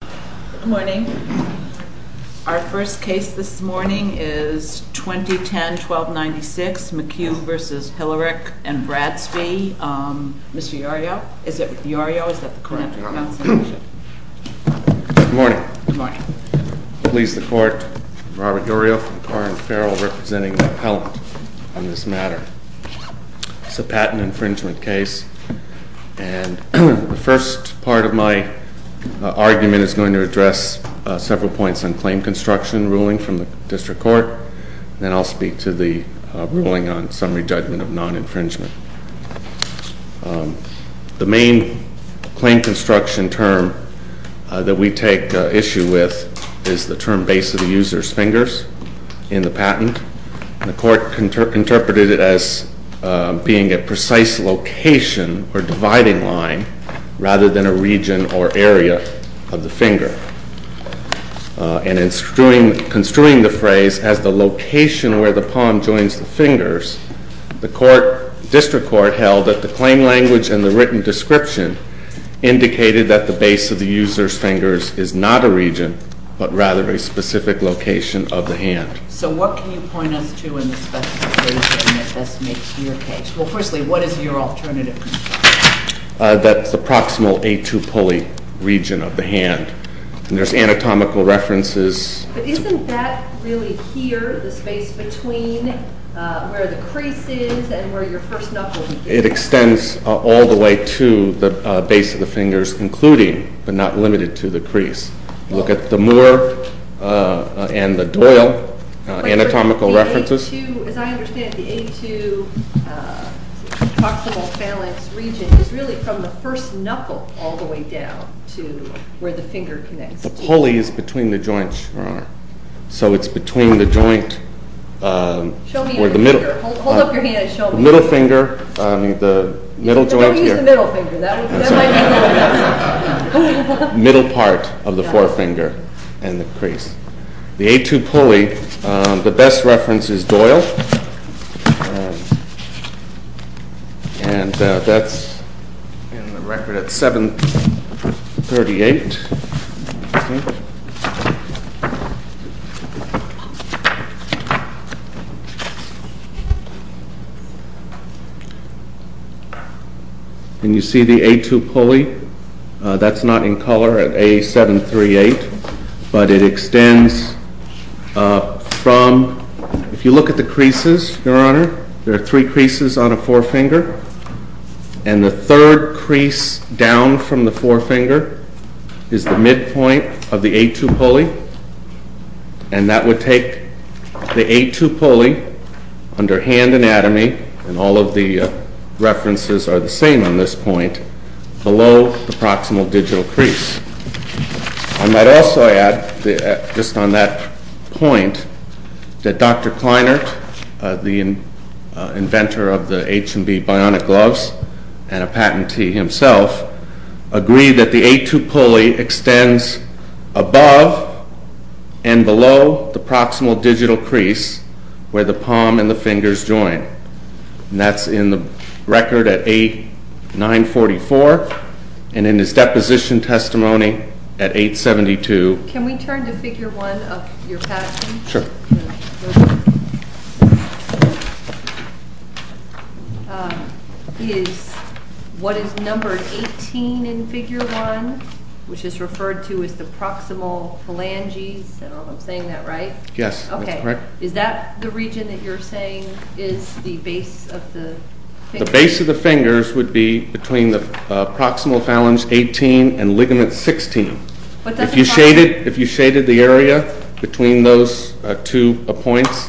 Good morning. Our first case this morning is 2010-1296, MCHUGH v. HILLERICH & BRADSBY. Mr. Iorio? Is it with Iorio? Is that the correct pronunciation? Good morning. Please the court, Robert Iorio from Carr and Farrell representing the appellant on this matter. It's a patent infringement case. And the first part of my argument is going to address several points on claim construction ruling from the district court. Then I'll speak to the ruling on summary judgment of non-infringement. The main claim construction term that we take issue with is the term base of the user's fingers in the patent. The court interpreted it as being a precise location or dividing line rather than a region or area of the finger. And in construing the phrase as the location where the palm joins the fingers, the district court held that the claim language and the written description indicated that the base of the user's fingers is not a region, but rather a specific location of the hand. So what can you point us to in the specification that best makes your case? Well, firstly, what is your alternative? That's the proximal A2 pulley region of the hand. And there's anatomical references. But isn't that really here, the space between where the crease is and where your first knuckle begins? It extends all the way to the base of the fingers, including but not limited to the crease. Look at the Moore and the Doyle anatomical references. As I understand it, the A2 proximal balance region is really from the first knuckle all the way down to where the finger connects. The pulley is between the joints, Your Honor. So it's between the joint where the middle finger, the middle joint here. Don't use the middle finger. That might be a little messy. The middle part of the forefinger and the crease. The A2 pulley, the best reference is Doyle. And that's in the record at 738. And you see the A2 pulley. That's not in color at A738. But it extends from, if you look at the creases, Your Honor, there are three creases on a forefinger. And the third crease down from the forefinger is the midpoint of the A2 pulley. And that would take the A2 pulley under hand anatomy, and all of the references are the same on this point, below the proximal digital crease. I might also add, just on that point, that Dr. Kleinert, the inventor of the H&B bionic gloves and a patentee himself, agreed that the A2 pulley extends above and below the proximal digital crease, where the palm and the fingers join. And that's in the record at A944, and in his deposition testimony at 872. Can we turn to figure one of your patent? Sure. What is numbered 18 in figure one, which is referred to as the proximal phalanges? I don't know if I'm saying that right. Yes, that's correct. Is that the region that you're saying is the base of the? The base of the fingers would be between the proximal phalange 18 and ligament 16. If you shaded the area between those two points,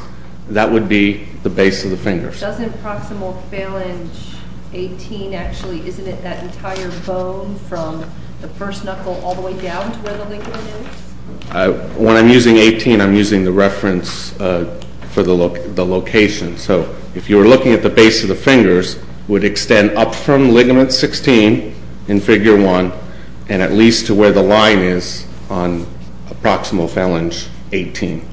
that would be the base of the fingers. Doesn't proximal phalange 18 actually, isn't it that entire bone from the first knuckle all the way down to where the ligament is? When I'm using 18, I'm using the reference for the location. So if you were looking at the base of the fingers, would extend up from ligament 16 in figure one, and at least to where the line is on a proximal phalange 18.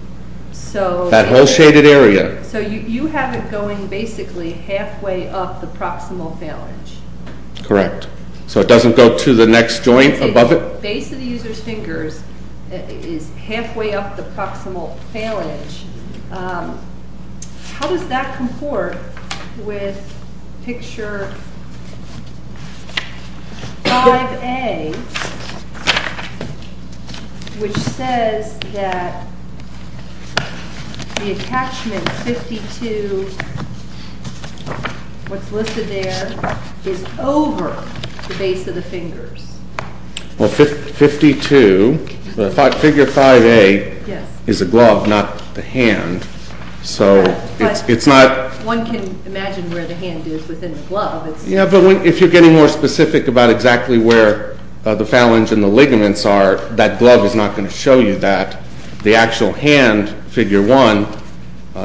So that whole shaded area. So you have it going basically halfway up the proximal phalange. Correct. So it doesn't go to the next joint above it? Base of the user's fingers is halfway up the proximal phalange. How does that comport with picture 5A, which says that the attachment 52, what's listed there, is over the base of the fingers? Well, 52, figure 5A is a glove, not the hand. So it's not... One can imagine where the hand is within the glove. Yeah, but if you're getting more specific about exactly where the phalange and the ligaments are, that glove is not going to show you that. The actual hand, figure one,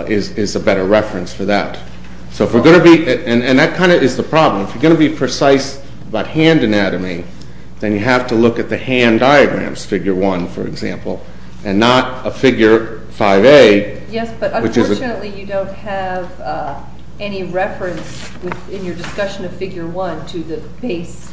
is a better reference for that. So if we're going to be, and that kind of is the problem, if you're going to be precise about hand anatomy, then you have to look at the hand diagrams, figure one, for example, and not a figure 5A, which is a... Yes, but unfortunately you don't have any reference in your discussion of figure one to the base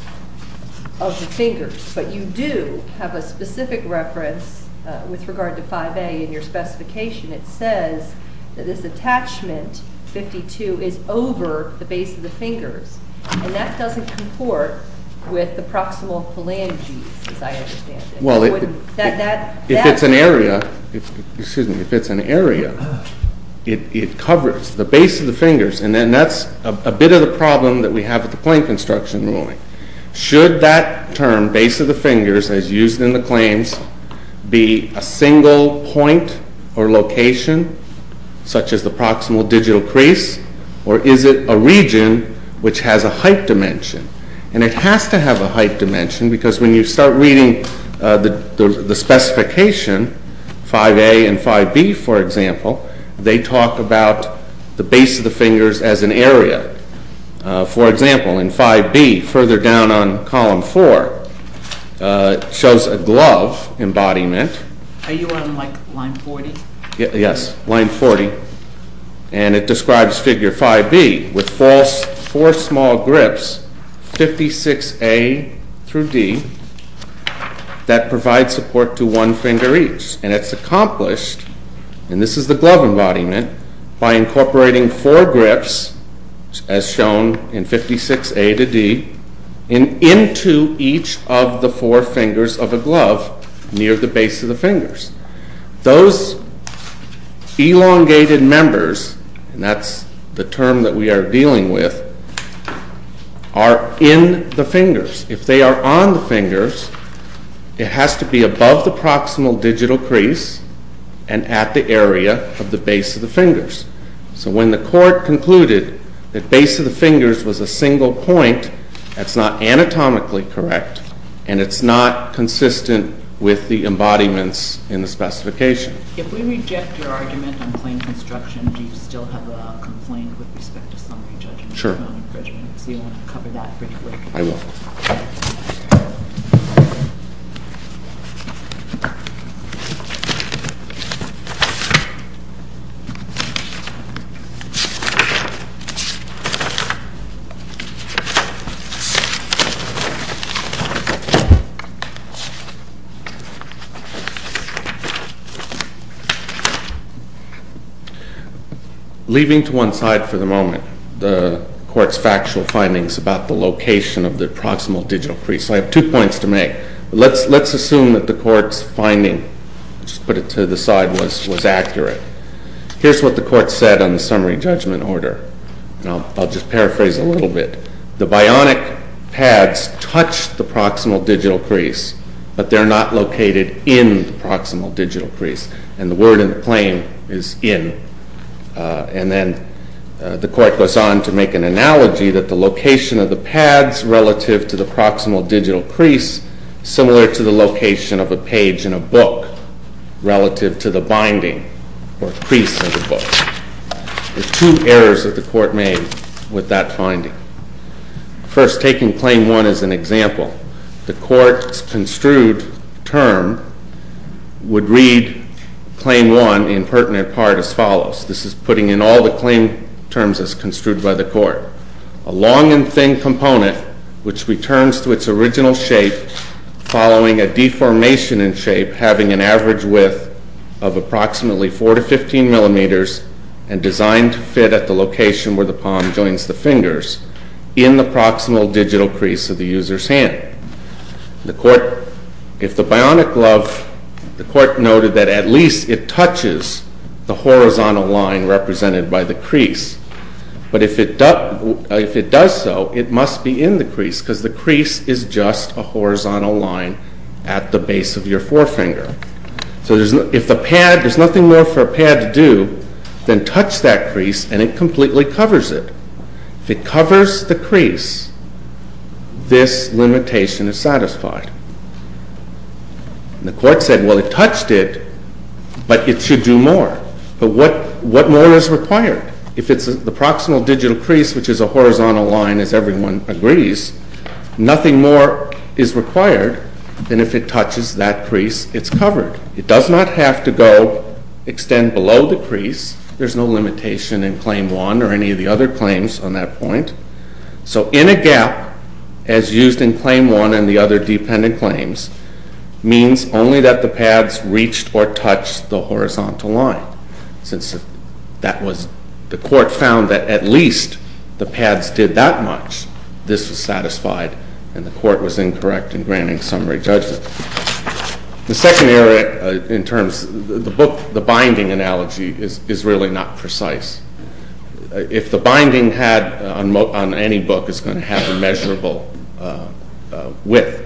of the fingers. But you do have a specific reference with regard to 5A in your specification. It says that this attachment 52 is over the base of the fingers, and that doesn't comport with the proximal phalanges, as I understand it. Well, if it's an area, it covers the base of the fingers, and then that's a bit of the problem that we have with the plane construction ruling. Should that term, base of the fingers, as used in the claims, be a single point or location, such as the proximal digital crease, or is it a region which has a height dimension? And it has to have a height dimension, because when you start reading the specification, 5A and 5B, for example, they talk about the base of the fingers as an area. For example, in 5B, further down on column four, it shows a glove embodiment. Are you on, like, line 40? Yes, line 40, and it describes figure 5B with four small grips, 56A through D, that provide support to one finger each. And it's accomplished, and this is the glove embodiment, by incorporating four grips, as shown in 56A to D, and into each of the four fingers of a glove near the base of the fingers. Those elongated members, and that's the term that we are dealing with, are in the fingers. If they are on the fingers, it has to be above the proximal digital crease and at the area of the base of the fingers. So when the court concluded that base of the fingers was a single point, that's not anatomically correct, and it's not consistent with the embodiments in the specification. If we reject your argument in plain construction, do you still have a complaint with respect to summary judgment? Sure. So you'll want to cover that pretty quickly. I will. Leaving to one side for the moment, the court's factual findings about the location of the proximal digital crease. I have two points to make. Let's assume that the court's finding, just put it to the side, was accurate. Here's what the court said on the summary judgment order. I'll just paraphrase a little bit. The bionic pads touch the proximal digital crease, but they're not located in the proximal digital crease, and the word in the claim is in. And then the court goes on to make an analogy that the location of the pads relative to the proximal digital crease is similar to the location of a page in a book relative to the binding or crease of the book. The two errors that the court made with that finding. First, taking claim one as an example, the court's construed term would read claim one in pertinent part as follows. This is putting in all the claim terms as construed by the court. A long and thin component, which returns to its original shape following a deformation in shape having an average width of approximately 4 to 15 millimeters and designed to fit at the location where the palm joins the fingers in the proximal digital crease of the user's hand. If the bionic glove, the court noted that at least it touches the horizontal line represented by the crease, but if it does so, it must be in the crease because the crease is just a horizontal line at the base of your forefinger. So if the pad, there's nothing more for a pad to do than touch that crease and it completely covers it. If it covers the crease, this limitation is satisfied. The court said, well, it touched it, but it should do more. But what more is required? If it's the proximal digital crease, which is a horizontal line as everyone agrees, nothing more is required than if it touches that crease, it's covered. It does not have to go extend below the crease. There's no limitation in Claim 1 or any of the other claims on that point. So in a gap, as used in Claim 1 and the other dependent claims, means only that the pads reached or touched the horizontal line. Since the court found that at least the pads did that much, this was satisfied and the court was incorrect in granting summary judgment. The second error in terms of the book, the binding analogy is really not precise. If the binding had on any book is going to have a measurable width,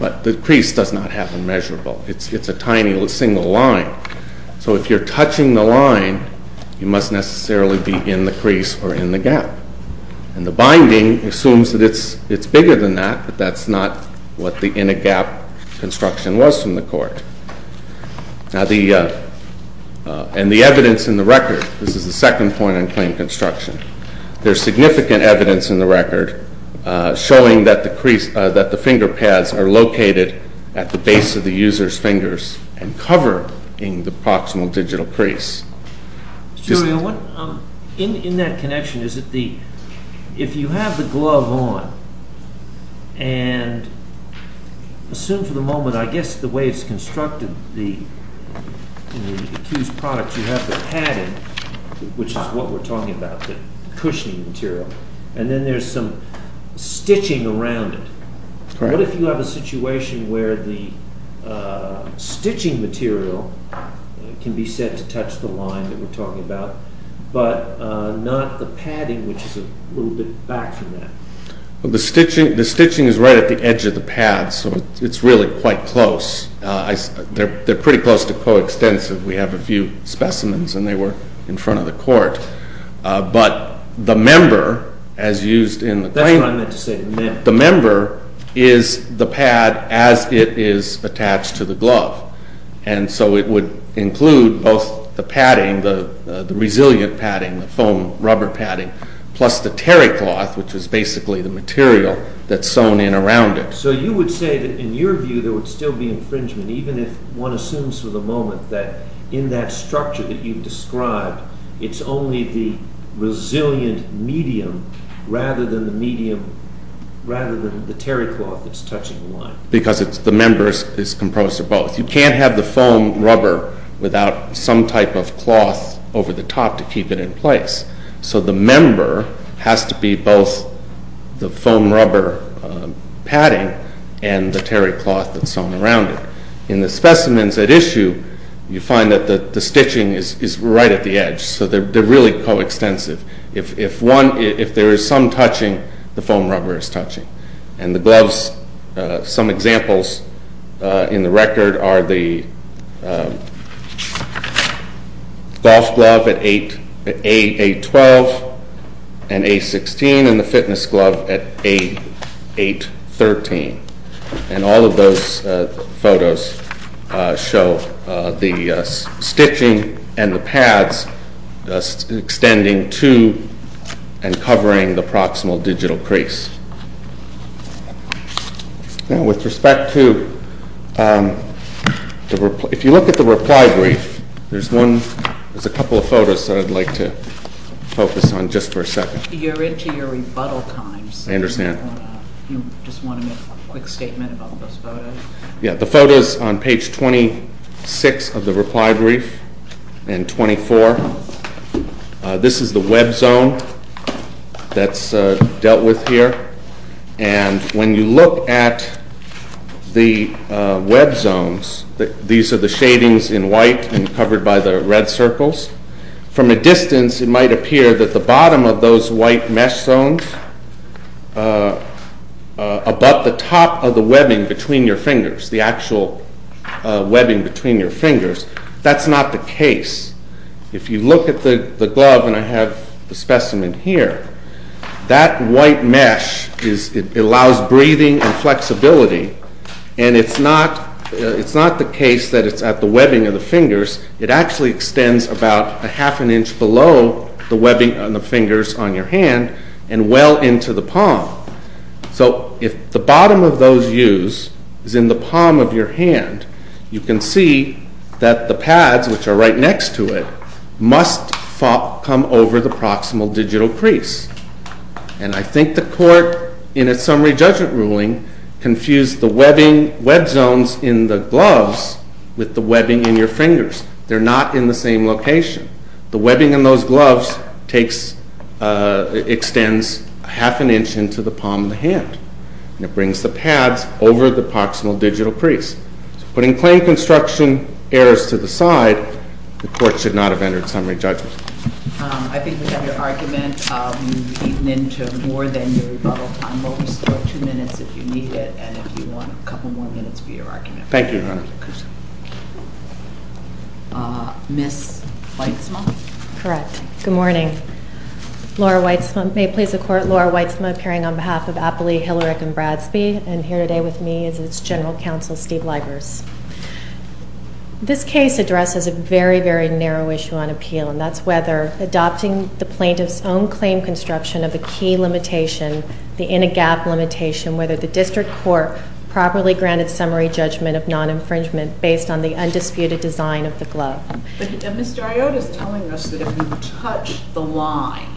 but the crease does not have a measurable. It's a tiny little single line. So if you're touching the line, you must necessarily be in the crease or in the gap. And the binding assumes that it's bigger than that, but that's not what the inner gap construction was from the court. And the evidence in the record, this is the second point on claim construction. There's significant evidence in the record showing that the finger pads are located at the base of the user's fingers and cover in the proximal digital crease. In that connection, if you have the glove on and assume for the moment, I guess the way it's constructed in the accused product, you have the padding, which is what we're talking about, the cushioning material, and then there's some stitching around it. What if you have a situation where the stitching material can be said to touch the line that we're talking about, but not the padding, which is a little bit back from that? The stitching is right at the edge of the pad, so it's really quite close. They're pretty close to coextensive. We have a few specimens, and they were in front of the court. But the member, as used in the claim... That's what I meant to say, the member. The member is the pad as it is attached to the glove. And so it would include both the padding, the resilient padding, the foam rubber padding, plus the terrycloth, which is basically the material that's sewn in around it. So you would say that in your view there would still be infringement, even if one assumes for the moment that in that structure that you've described it's only the resilient medium rather than the terrycloth that's touching the line. Because the member is composed of both. You can't have the foam rubber without some type of cloth over the top to keep it in place. So the member has to be both the foam rubber padding and the terrycloth that's sewn around it. In the specimens at issue, you find that the stitching is right at the edge. So they're really coextensive. And the gloves, some examples in the record are the golf glove at A8-12 and A16 and the fitness glove at A8-13. And all of those photos show the stitching and the pads extending to and covering the proximal digital crease. Now with respect to, if you look at the reply brief, there's a couple of photos that I'd like to focus on just for a second. You're into your rebuttal times. I understand. You just want to make a quick statement about those photos. Yeah, the photos on page 26 of the reply brief and 24. This is the web zone that's dealt with here. And when you look at the web zones, these are the shadings in white and covered by the red circles. From a distance, it might appear that the bottom of those white mesh zones, about the top of the webbing between your fingers, the actual webbing between your fingers, that's not the case. If you look at the glove, and I have the specimen here, that white mesh allows breathing and flexibility, and it's not the case that it's at the webbing of the fingers. It actually extends about a half an inch below the webbing on the fingers on your hand and well into the palm. So if the bottom of those U's is in the palm of your hand, you can see that the pads, which are right next to it, must come over the proximal digital crease. And I think the court, in its summary judgment ruling, confused the web zones in the gloves with the webbing in your fingers. They're not in the same location. The webbing in those gloves extends half an inch into the palm of the hand, and it brings the pads over the proximal digital crease. So putting claim construction errors to the side, the court should not have entered summary judgment. I think we've had your argument. You've eaten into more than your rebuttal time. We'll restore two minutes if you need it, and if you want a couple more minutes for your argument. Thank you, Your Honor. Ms. Weitzman? Correct. Good morning. Laura Weitzman. May it please the Court, Laura Weitzman appearing on behalf of Apley, Hillerich, and Bradsby, and here today with me is General Counsel Steve Libers. This case addresses a very, very narrow issue on appeal, and that's whether adopting the plaintiff's own claim construction of a key limitation, the in-a-gap limitation, whether the district court properly granted summary judgment of non-infringement based on the undisputed design of the glove. But Mr. Iota is telling us that if you touch the line,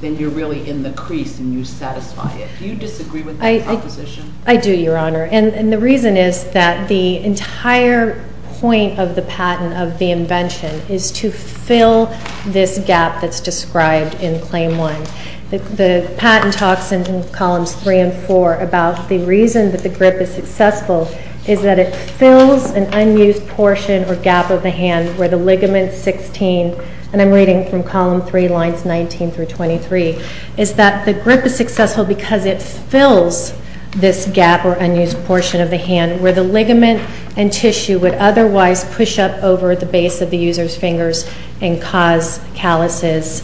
then you're really in the crease and you satisfy it. Do you disagree with that proposition? I do, Your Honor, and the reason is that the entire point of the patent of the invention is to fill this gap that's described in Claim 1. The patent talks in Columns 3 and 4 about the reason that the grip is successful is that it fills an unused portion or gap of the hand where the ligament 16, and I'm reading from Column 3, Lines 19 through 23, is that the grip is successful because it fills this gap or unused portion of the hand where the ligament and tissue would otherwise push up over the base of the user's fingers and cause calluses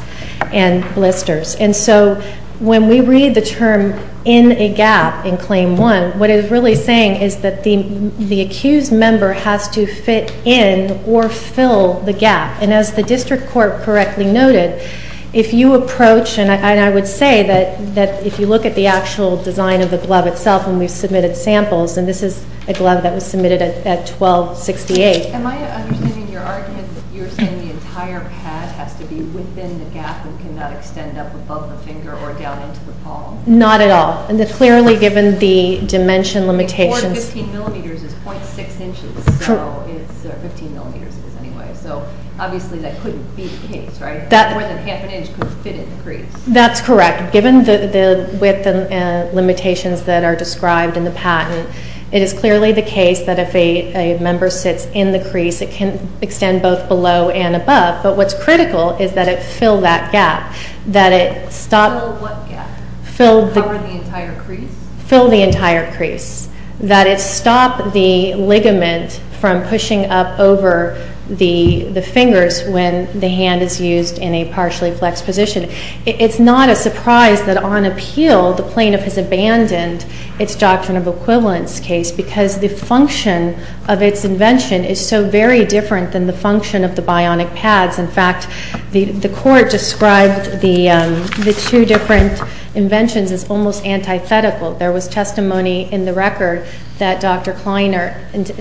and blisters. And so when we read the term in-a-gap in Claim 1, what it is really saying is that the accused member has to fit in or fill the gap. And as the district court correctly noted, if you approach, and I would say that if you look at the actual design of the glove itself when we submitted samples, and this is a glove that was submitted at 1268. Am I understanding your argument that you're saying the entire pad has to be within the gap and cannot extend up above the finger or down into the palm? Not at all. Clearly, given the dimension limitations. Four 15 millimeters is .6 inches, so it's 15 millimeters anyway, so obviously that couldn't be the case, right? More than half an inch couldn't fit in the crease. That's correct. Given the width and limitations that are described in the patent, it is clearly the case that if a member sits in the crease, it can extend both below and above, but what's critical is that it fill that gap. Fill what gap? Fill the entire crease. That it stop the ligament from pushing up over the fingers when the hand is used in a partially flexed position. It's not a surprise that on appeal the plaintiff has abandoned its doctrine of equivalence case because the function of its invention is so very different than the function of the bionic pads. In fact, the court described the two different inventions as almost antithetical. There was testimony in the record that Dr. Kleiner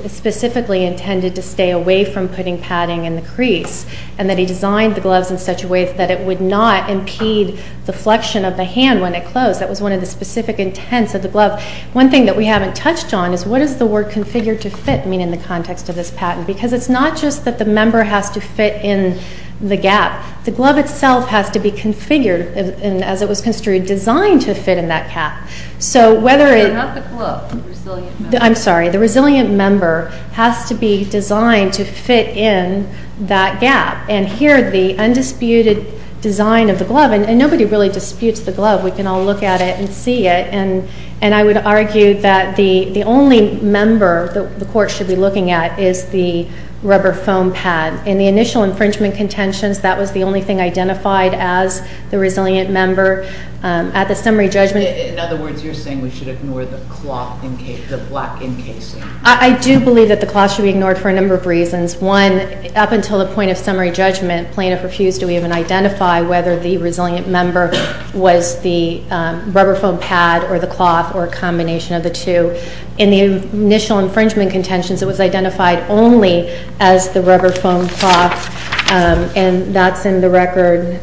specifically intended to stay away from putting padding in the crease and that he designed the gloves in such a way that it would not impede the flexion of the hand when it closed. That was one of the specific intents of the glove. One thing that we haven't touched on is what does the word configured to fit mean in the context of this patent because it's not just that the member has to fit in the gap. The glove itself has to be configured and, as it was construed, designed to fit in that gap. So whether it... Not the glove, the resilient member. I'm sorry. The resilient member has to be designed to fit in that gap. And here the undisputed design of the glove, and nobody really disputes the glove. We can all look at it and see it. And I would argue that the only member the court should be looking at is the rubber foam pad. In the initial infringement contentions, that was the only thing identified as the resilient member. At the summary judgment... In other words, you're saying we should ignore the cloth, the black encasing. I do believe that the cloth should be ignored for a number of reasons. One, up until the point of summary judgment, plaintiff refused to even identify whether the resilient member was the rubber foam pad or the cloth or a combination of the two. In the initial infringement contentions, it was identified only as the rubber foam cloth. And that's in the record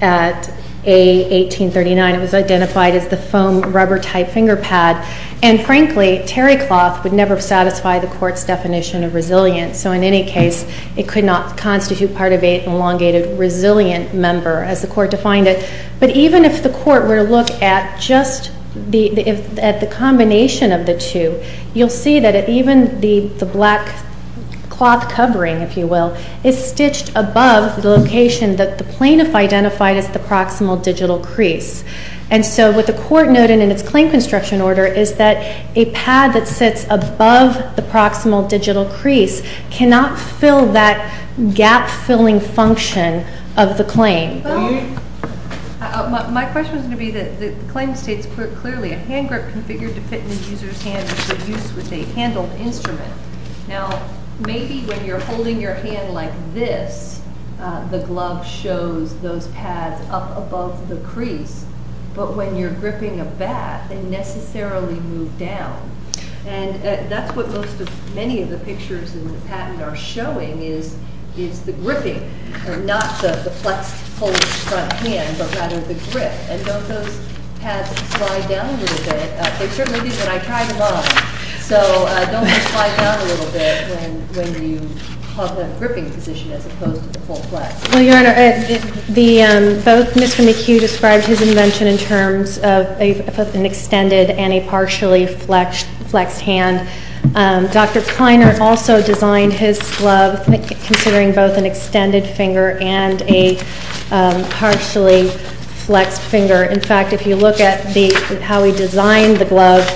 at A1839. It was identified as the foam rubber-type finger pad. And, frankly, terry cloth would never satisfy the court's definition of resilient. So in any case, it could not constitute part of an elongated resilient member, as the court defined it. But even if the court were to look at just the combination of the two, you'll see that even the black cloth covering, if you will, is stitched above the location that the plaintiff identified as the proximal digital crease. And so what the court noted in its claim construction order is that a pad that sits above the proximal digital crease cannot fill that gap-filling function of the claim. My question is going to be that the claim states clearly, a hand grip configured to fit in the user's hand should be used with a handled instrument. Now, maybe when you're holding your hand like this, the glove shows those pads up above the crease. But when you're gripping a bat, they necessarily move down. And that's what most of, many of the pictures in the patent are showing, is the gripping, not the flexed, pulled front hand, but rather the grip. And don't those pads slide down a little bit? They certainly did when I tried them on. So don't they slide down a little bit when you have that gripping position as opposed to the full flex? Well, Your Honor, both Mr. McHugh described his invention in terms of an extended and a partially flexed hand. Dr. Kleiner also designed his glove considering both an extended finger and a partially flexed finger. In fact, if you look at how he designed the glove,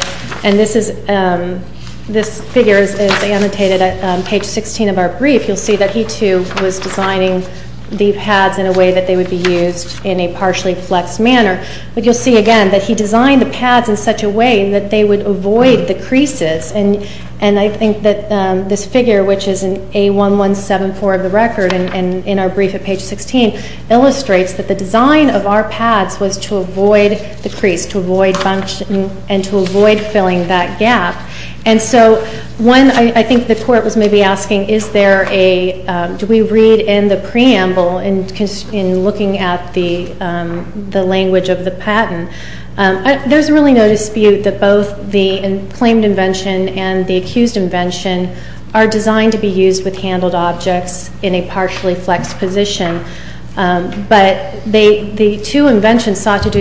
and this figure is annotated at page 16 of our brief, you'll see that he too was designing the pads in a way that they would be used in a partially flexed manner. But you'll see again that he designed the pads in such a way that they would avoid the creases. And I think that this figure, which is in A1174 of the record and in our brief at page 16, illustrates that the design of our pads was to avoid the crease, to avoid function, and to avoid filling that gap. And so one, I think the court was maybe asking, is there a, do we read in the preamble in looking at the language of the patent? There's really no dispute that both the claimed invention and the accused invention are designed to be used with handled objects in a partially flexed position. But the two inventions sought to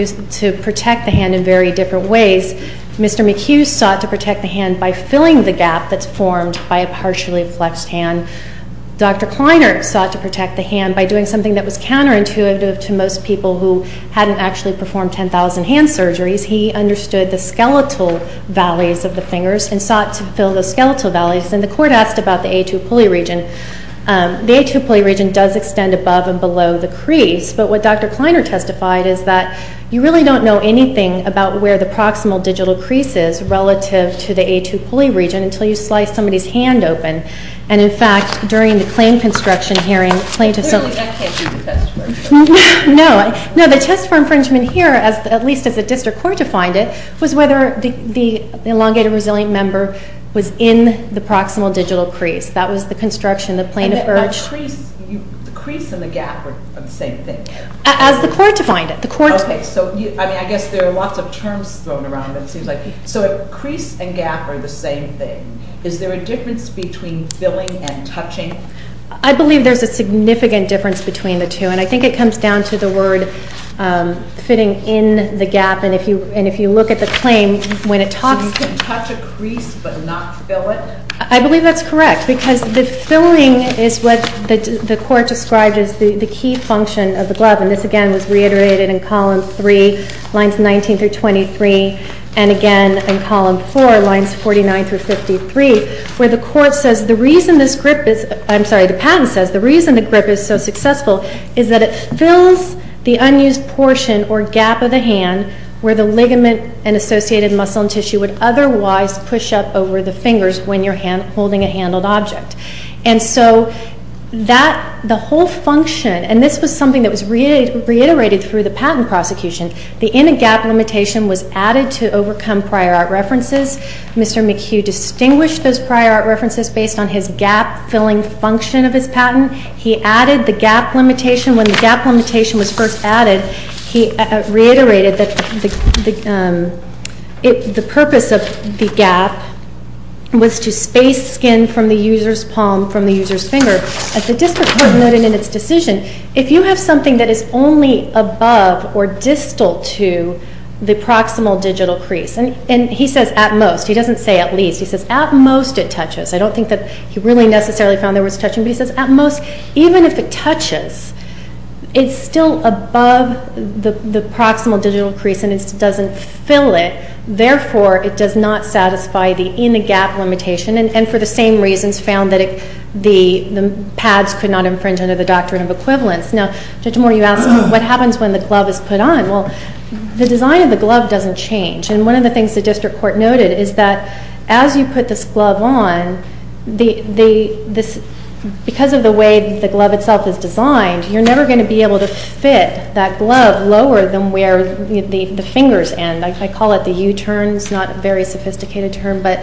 protect the hand in very different ways. Mr. McHugh sought to protect the hand by filling the gap that's formed by a partially flexed hand. Dr. Kleiner sought to protect the hand by doing something that was counterintuitive to most people who hadn't actually performed 10,000 hand surgeries. He understood the skeletal valleys of the fingers and sought to fill the skeletal valleys. And the court asked about the A2 pulley region. The A2 pulley region does extend above and below the crease. But what Dr. Kleiner testified is that you really don't know anything about where the proximal digital crease is relative to the A2 pulley region until you slice somebody's hand open. And in fact, during the claim construction hearing, plaintiffs... Really, that can't be the test for infringement. No. No, the test for infringement here, at least as the district court defined it, was whether the elongated resilient member was in the proximal digital crease. That was the construction, the plaintiff urged... The crease and the gap are the same thing. As the court defined it. Okay, so I guess there are lots of terms thrown around, it seems like. So crease and gap are the same thing. Is there a difference between filling and touching? I believe there's a significant difference between the two. And I think it comes down to the word fitting in the gap. And if you look at the claim, when it talks... So you can touch a crease but not fill it? I believe that's correct because the filling is what the court described as the key function of the glove. And this, again, was reiterated in column 3, lines 19 through 23. And, again, in column 4, lines 49 through 53, where the court says the reason this grip is... I'm sorry, the patent says the reason the grip is so successful is that it fills the unused portion or gap of the hand where the ligament and associated muscle and tissue would otherwise push up over the fingers when you're holding a handled object. And so the whole function, and this was something that was reiterated through the patent prosecution, the in-a-gap limitation was added to overcome prior art references. Mr. McHugh distinguished those prior art references based on his gap-filling function of his patent. He added the gap limitation. When the gap limitation was first added, he reiterated that the purpose of the gap was to space skin from the user's palm, from the user's finger. As the district court noted in its decision, if you have something that is only above or distal to the proximal digital crease, and he says at most, he doesn't say at least, he says at most it touches. I don't think that he really necessarily found there was touching, but he says at most, even if it touches, it's still above the proximal digital crease and it doesn't fill it. Therefore, it does not satisfy the in-a-gap limitation and for the same reasons found that the pads could not infringe under the doctrine of equivalence. Now, Judge Moore, you asked what happens when the glove is put on. Well, the design of the glove doesn't change. One of the things the district court noted is that as you put this glove on, because of the way the glove itself is designed, you're never going to be able to fit that glove lower than where the fingers end. I call it the U-turn. It's not a very sophisticated term, but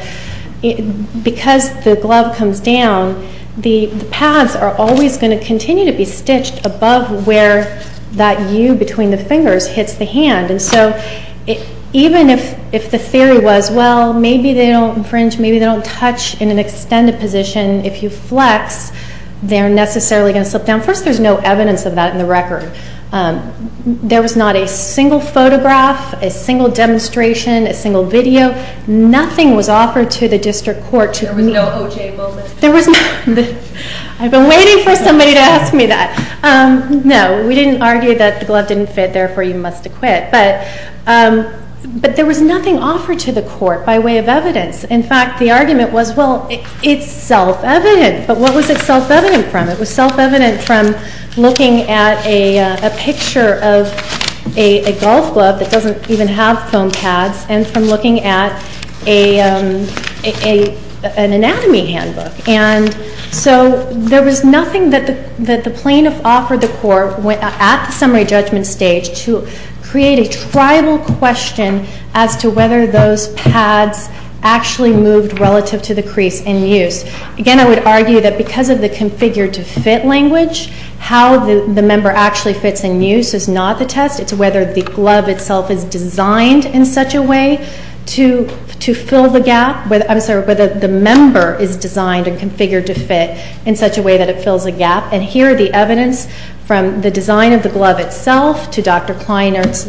because the glove comes down, the pads are always going to continue to be stitched above where that U between the fingers hits the hand. And so even if the theory was, well, maybe they don't infringe, maybe they don't touch in an extended position, if you flex, they're necessarily going to slip down. First, there's no evidence of that in the record. There was not a single photograph, a single demonstration, a single video. Nothing was offered to the district court. There was no OJ moment? There was not. I've been waiting for somebody to ask me that. No, we didn't argue that the glove didn't fit, therefore you must acquit. But there was nothing offered to the court by way of evidence. In fact, the argument was, well, it's self-evident. But what was it self-evident from? It was self-evident from looking at a picture of a golf glove that doesn't even have foam pads and from looking at an anatomy handbook. And so there was nothing that the plaintiff offered the court at the summary judgment stage to create a tribal question as to whether those pads actually moved relative to the crease in use. Again, I would argue that because of the configure-to-fit language, how the member actually fits in use is not the test. It's whether the glove itself is designed in such a way to fill the gap. I'm sorry, whether the member is designed and configured to fit in such a way that it fills a gap. And here are the evidence from the design of the glove itself to Dr. Kleinert's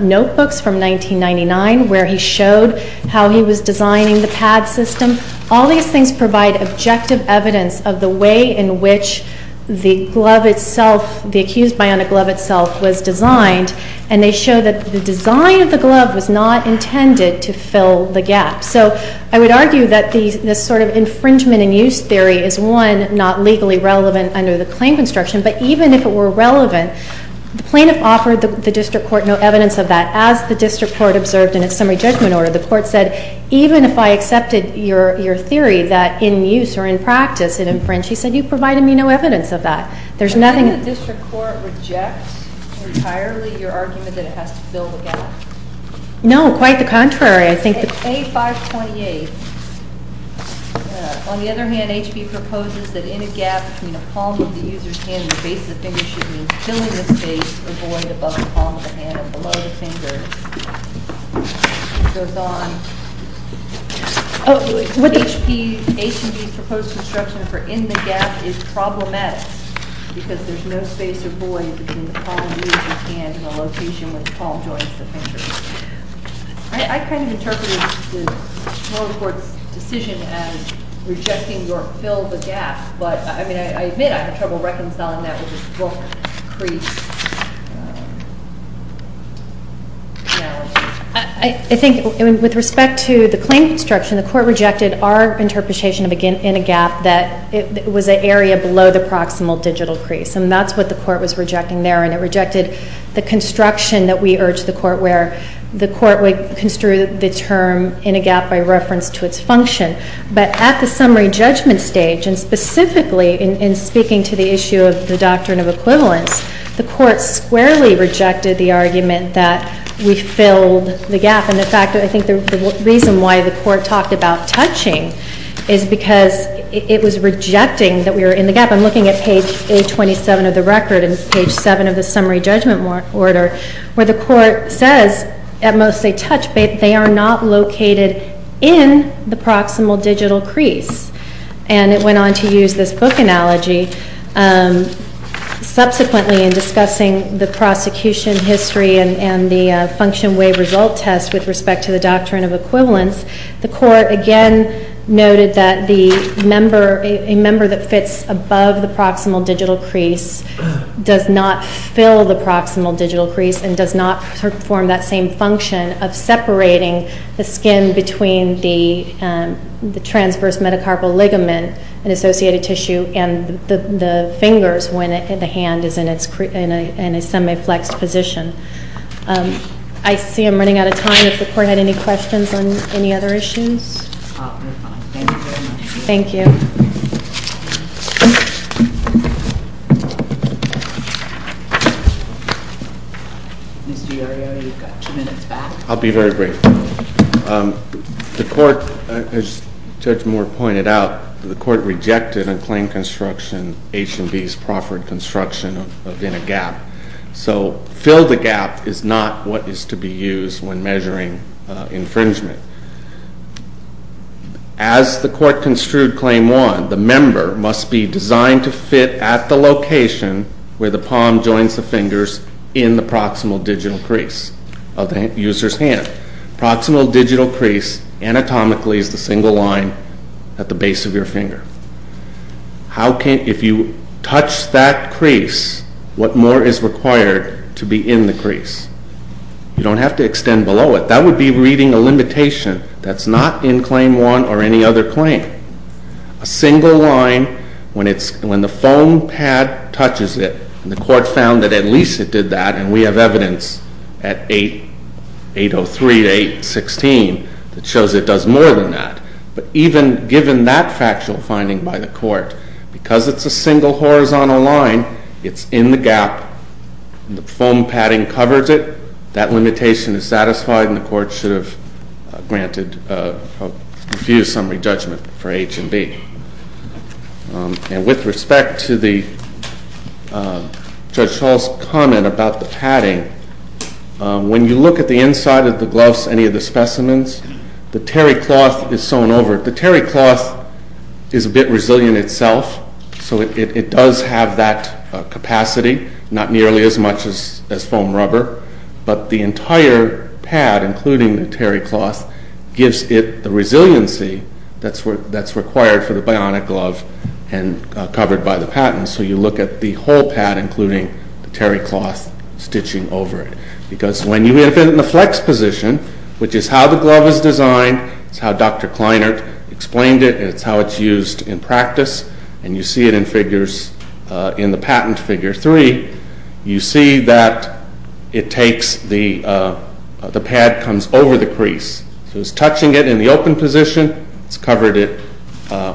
notebooks from 1999, where he showed how he was designing the pad system. All these things provide objective evidence of the way in which the glove itself, the accused by on a glove itself, was designed. And they show that the design of the glove was not intended to fill the gap. So I would argue that this sort of infringement-in-use theory is, one, not legally relevant under the claim construction. But even if it were relevant, the plaintiff offered the district court no evidence of that. As the district court observed in its summary judgment order, the court said, even if I accepted your theory that in use or in practice it infringes, you provided me no evidence of that. There's nothing- Do you think the district court rejects entirely your argument that it has to fill the gap? No, quite the contrary. A528, on the other hand, HB proposes that in a gap between a palm of the user's hand and the base of the finger should mean filling the space or void above the palm of the hand and below the finger. It goes on. HB's proposed construction for in the gap is problematic because there's no space or void between the palm of the user's hand and the location where the palm joins the finger. I kind of interpreted the Florida court's decision as rejecting your fill the gap, but I admit I had trouble reconciling that with this book crease analogy. I think with respect to the claim construction, the court rejected our interpretation of in a gap that it was an area below the proximal digital crease. And that's what the court was rejecting there, and it rejected the construction that we urged the court where the court would construe the term in a gap by reference to its function. But at the summary judgment stage, and specifically in speaking to the issue of the doctrine of equivalence, the court squarely rejected the argument that we filled the gap. And in fact, I think the reason why the court talked about touching is because it was rejecting that we were in the gap. I'm looking at page 827 of the record and page 7 of the summary judgment order where the court says at most they touch, but they are not located in the proximal digital crease. And it went on to use this book analogy. Subsequently, in discussing the prosecution history and the function waive result test with respect to the doctrine of equivalence, the court again noted that a member that fits above the proximal digital crease does not fill the proximal digital crease and does not perform that same function of separating the skin between the transverse metacarpal ligament and associated tissue and the fingers when the hand is in a semi-flexed position. I see I'm running out of time. If the court had any questions on any other issues. Thank you very much. Thank you. Mr. Iorio, you've got two minutes back. I'll be very brief. The court, as Judge Moore pointed out, the court rejected a claim construction, H&B's Crawford Construction, of being a gap. So fill the gap is not what is to be used when measuring infringement. As the court construed Claim 1, the member must be designed to fit at the location where the palm joins the fingers in the proximal digital crease of the user's hand. Proximal digital crease anatomically is the single line at the base of your finger. If you touch that crease, what more is required to be in the crease? You don't have to extend below it. That would be reading a limitation that's not in Claim 1 or any other claim. A single line, when the foam pad touches it, and the court found that at least it did that, and we have evidence at 803 to 816 that shows it does more than that. But even given that factual finding by the court, because it's a single horizontal line, it's in the gap. The foam padding covers it. That limitation is satisfied, and the court should have granted a few-summary judgment for H&B. And with respect to Judge Hall's comment about the padding, when you look at the inside of the gloves, any of the specimens, the terry cloth is sewn over it. The terry cloth is a bit resilient itself, so it does have that capacity, not nearly as much as foam rubber, but the entire pad, including the terry cloth, gives it the resiliency that's required for the bionic glove and covered by the padding. So you look at the whole pad, including the terry cloth stitching over it. Because when you have it in the flex position, which is how the glove is designed, it's how Dr. Kleinert explained it, it's how it's used in practice, and you see it in the patent figure 3, you see that the pad comes over the crease. So it's touching it in the open position, it's covered it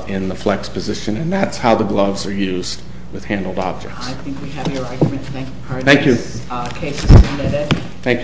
in the flex position, and that's how the gloves are used with handled objects. I think we have your argument. Thank you. Our next case is submitted. Thank you, Muriel.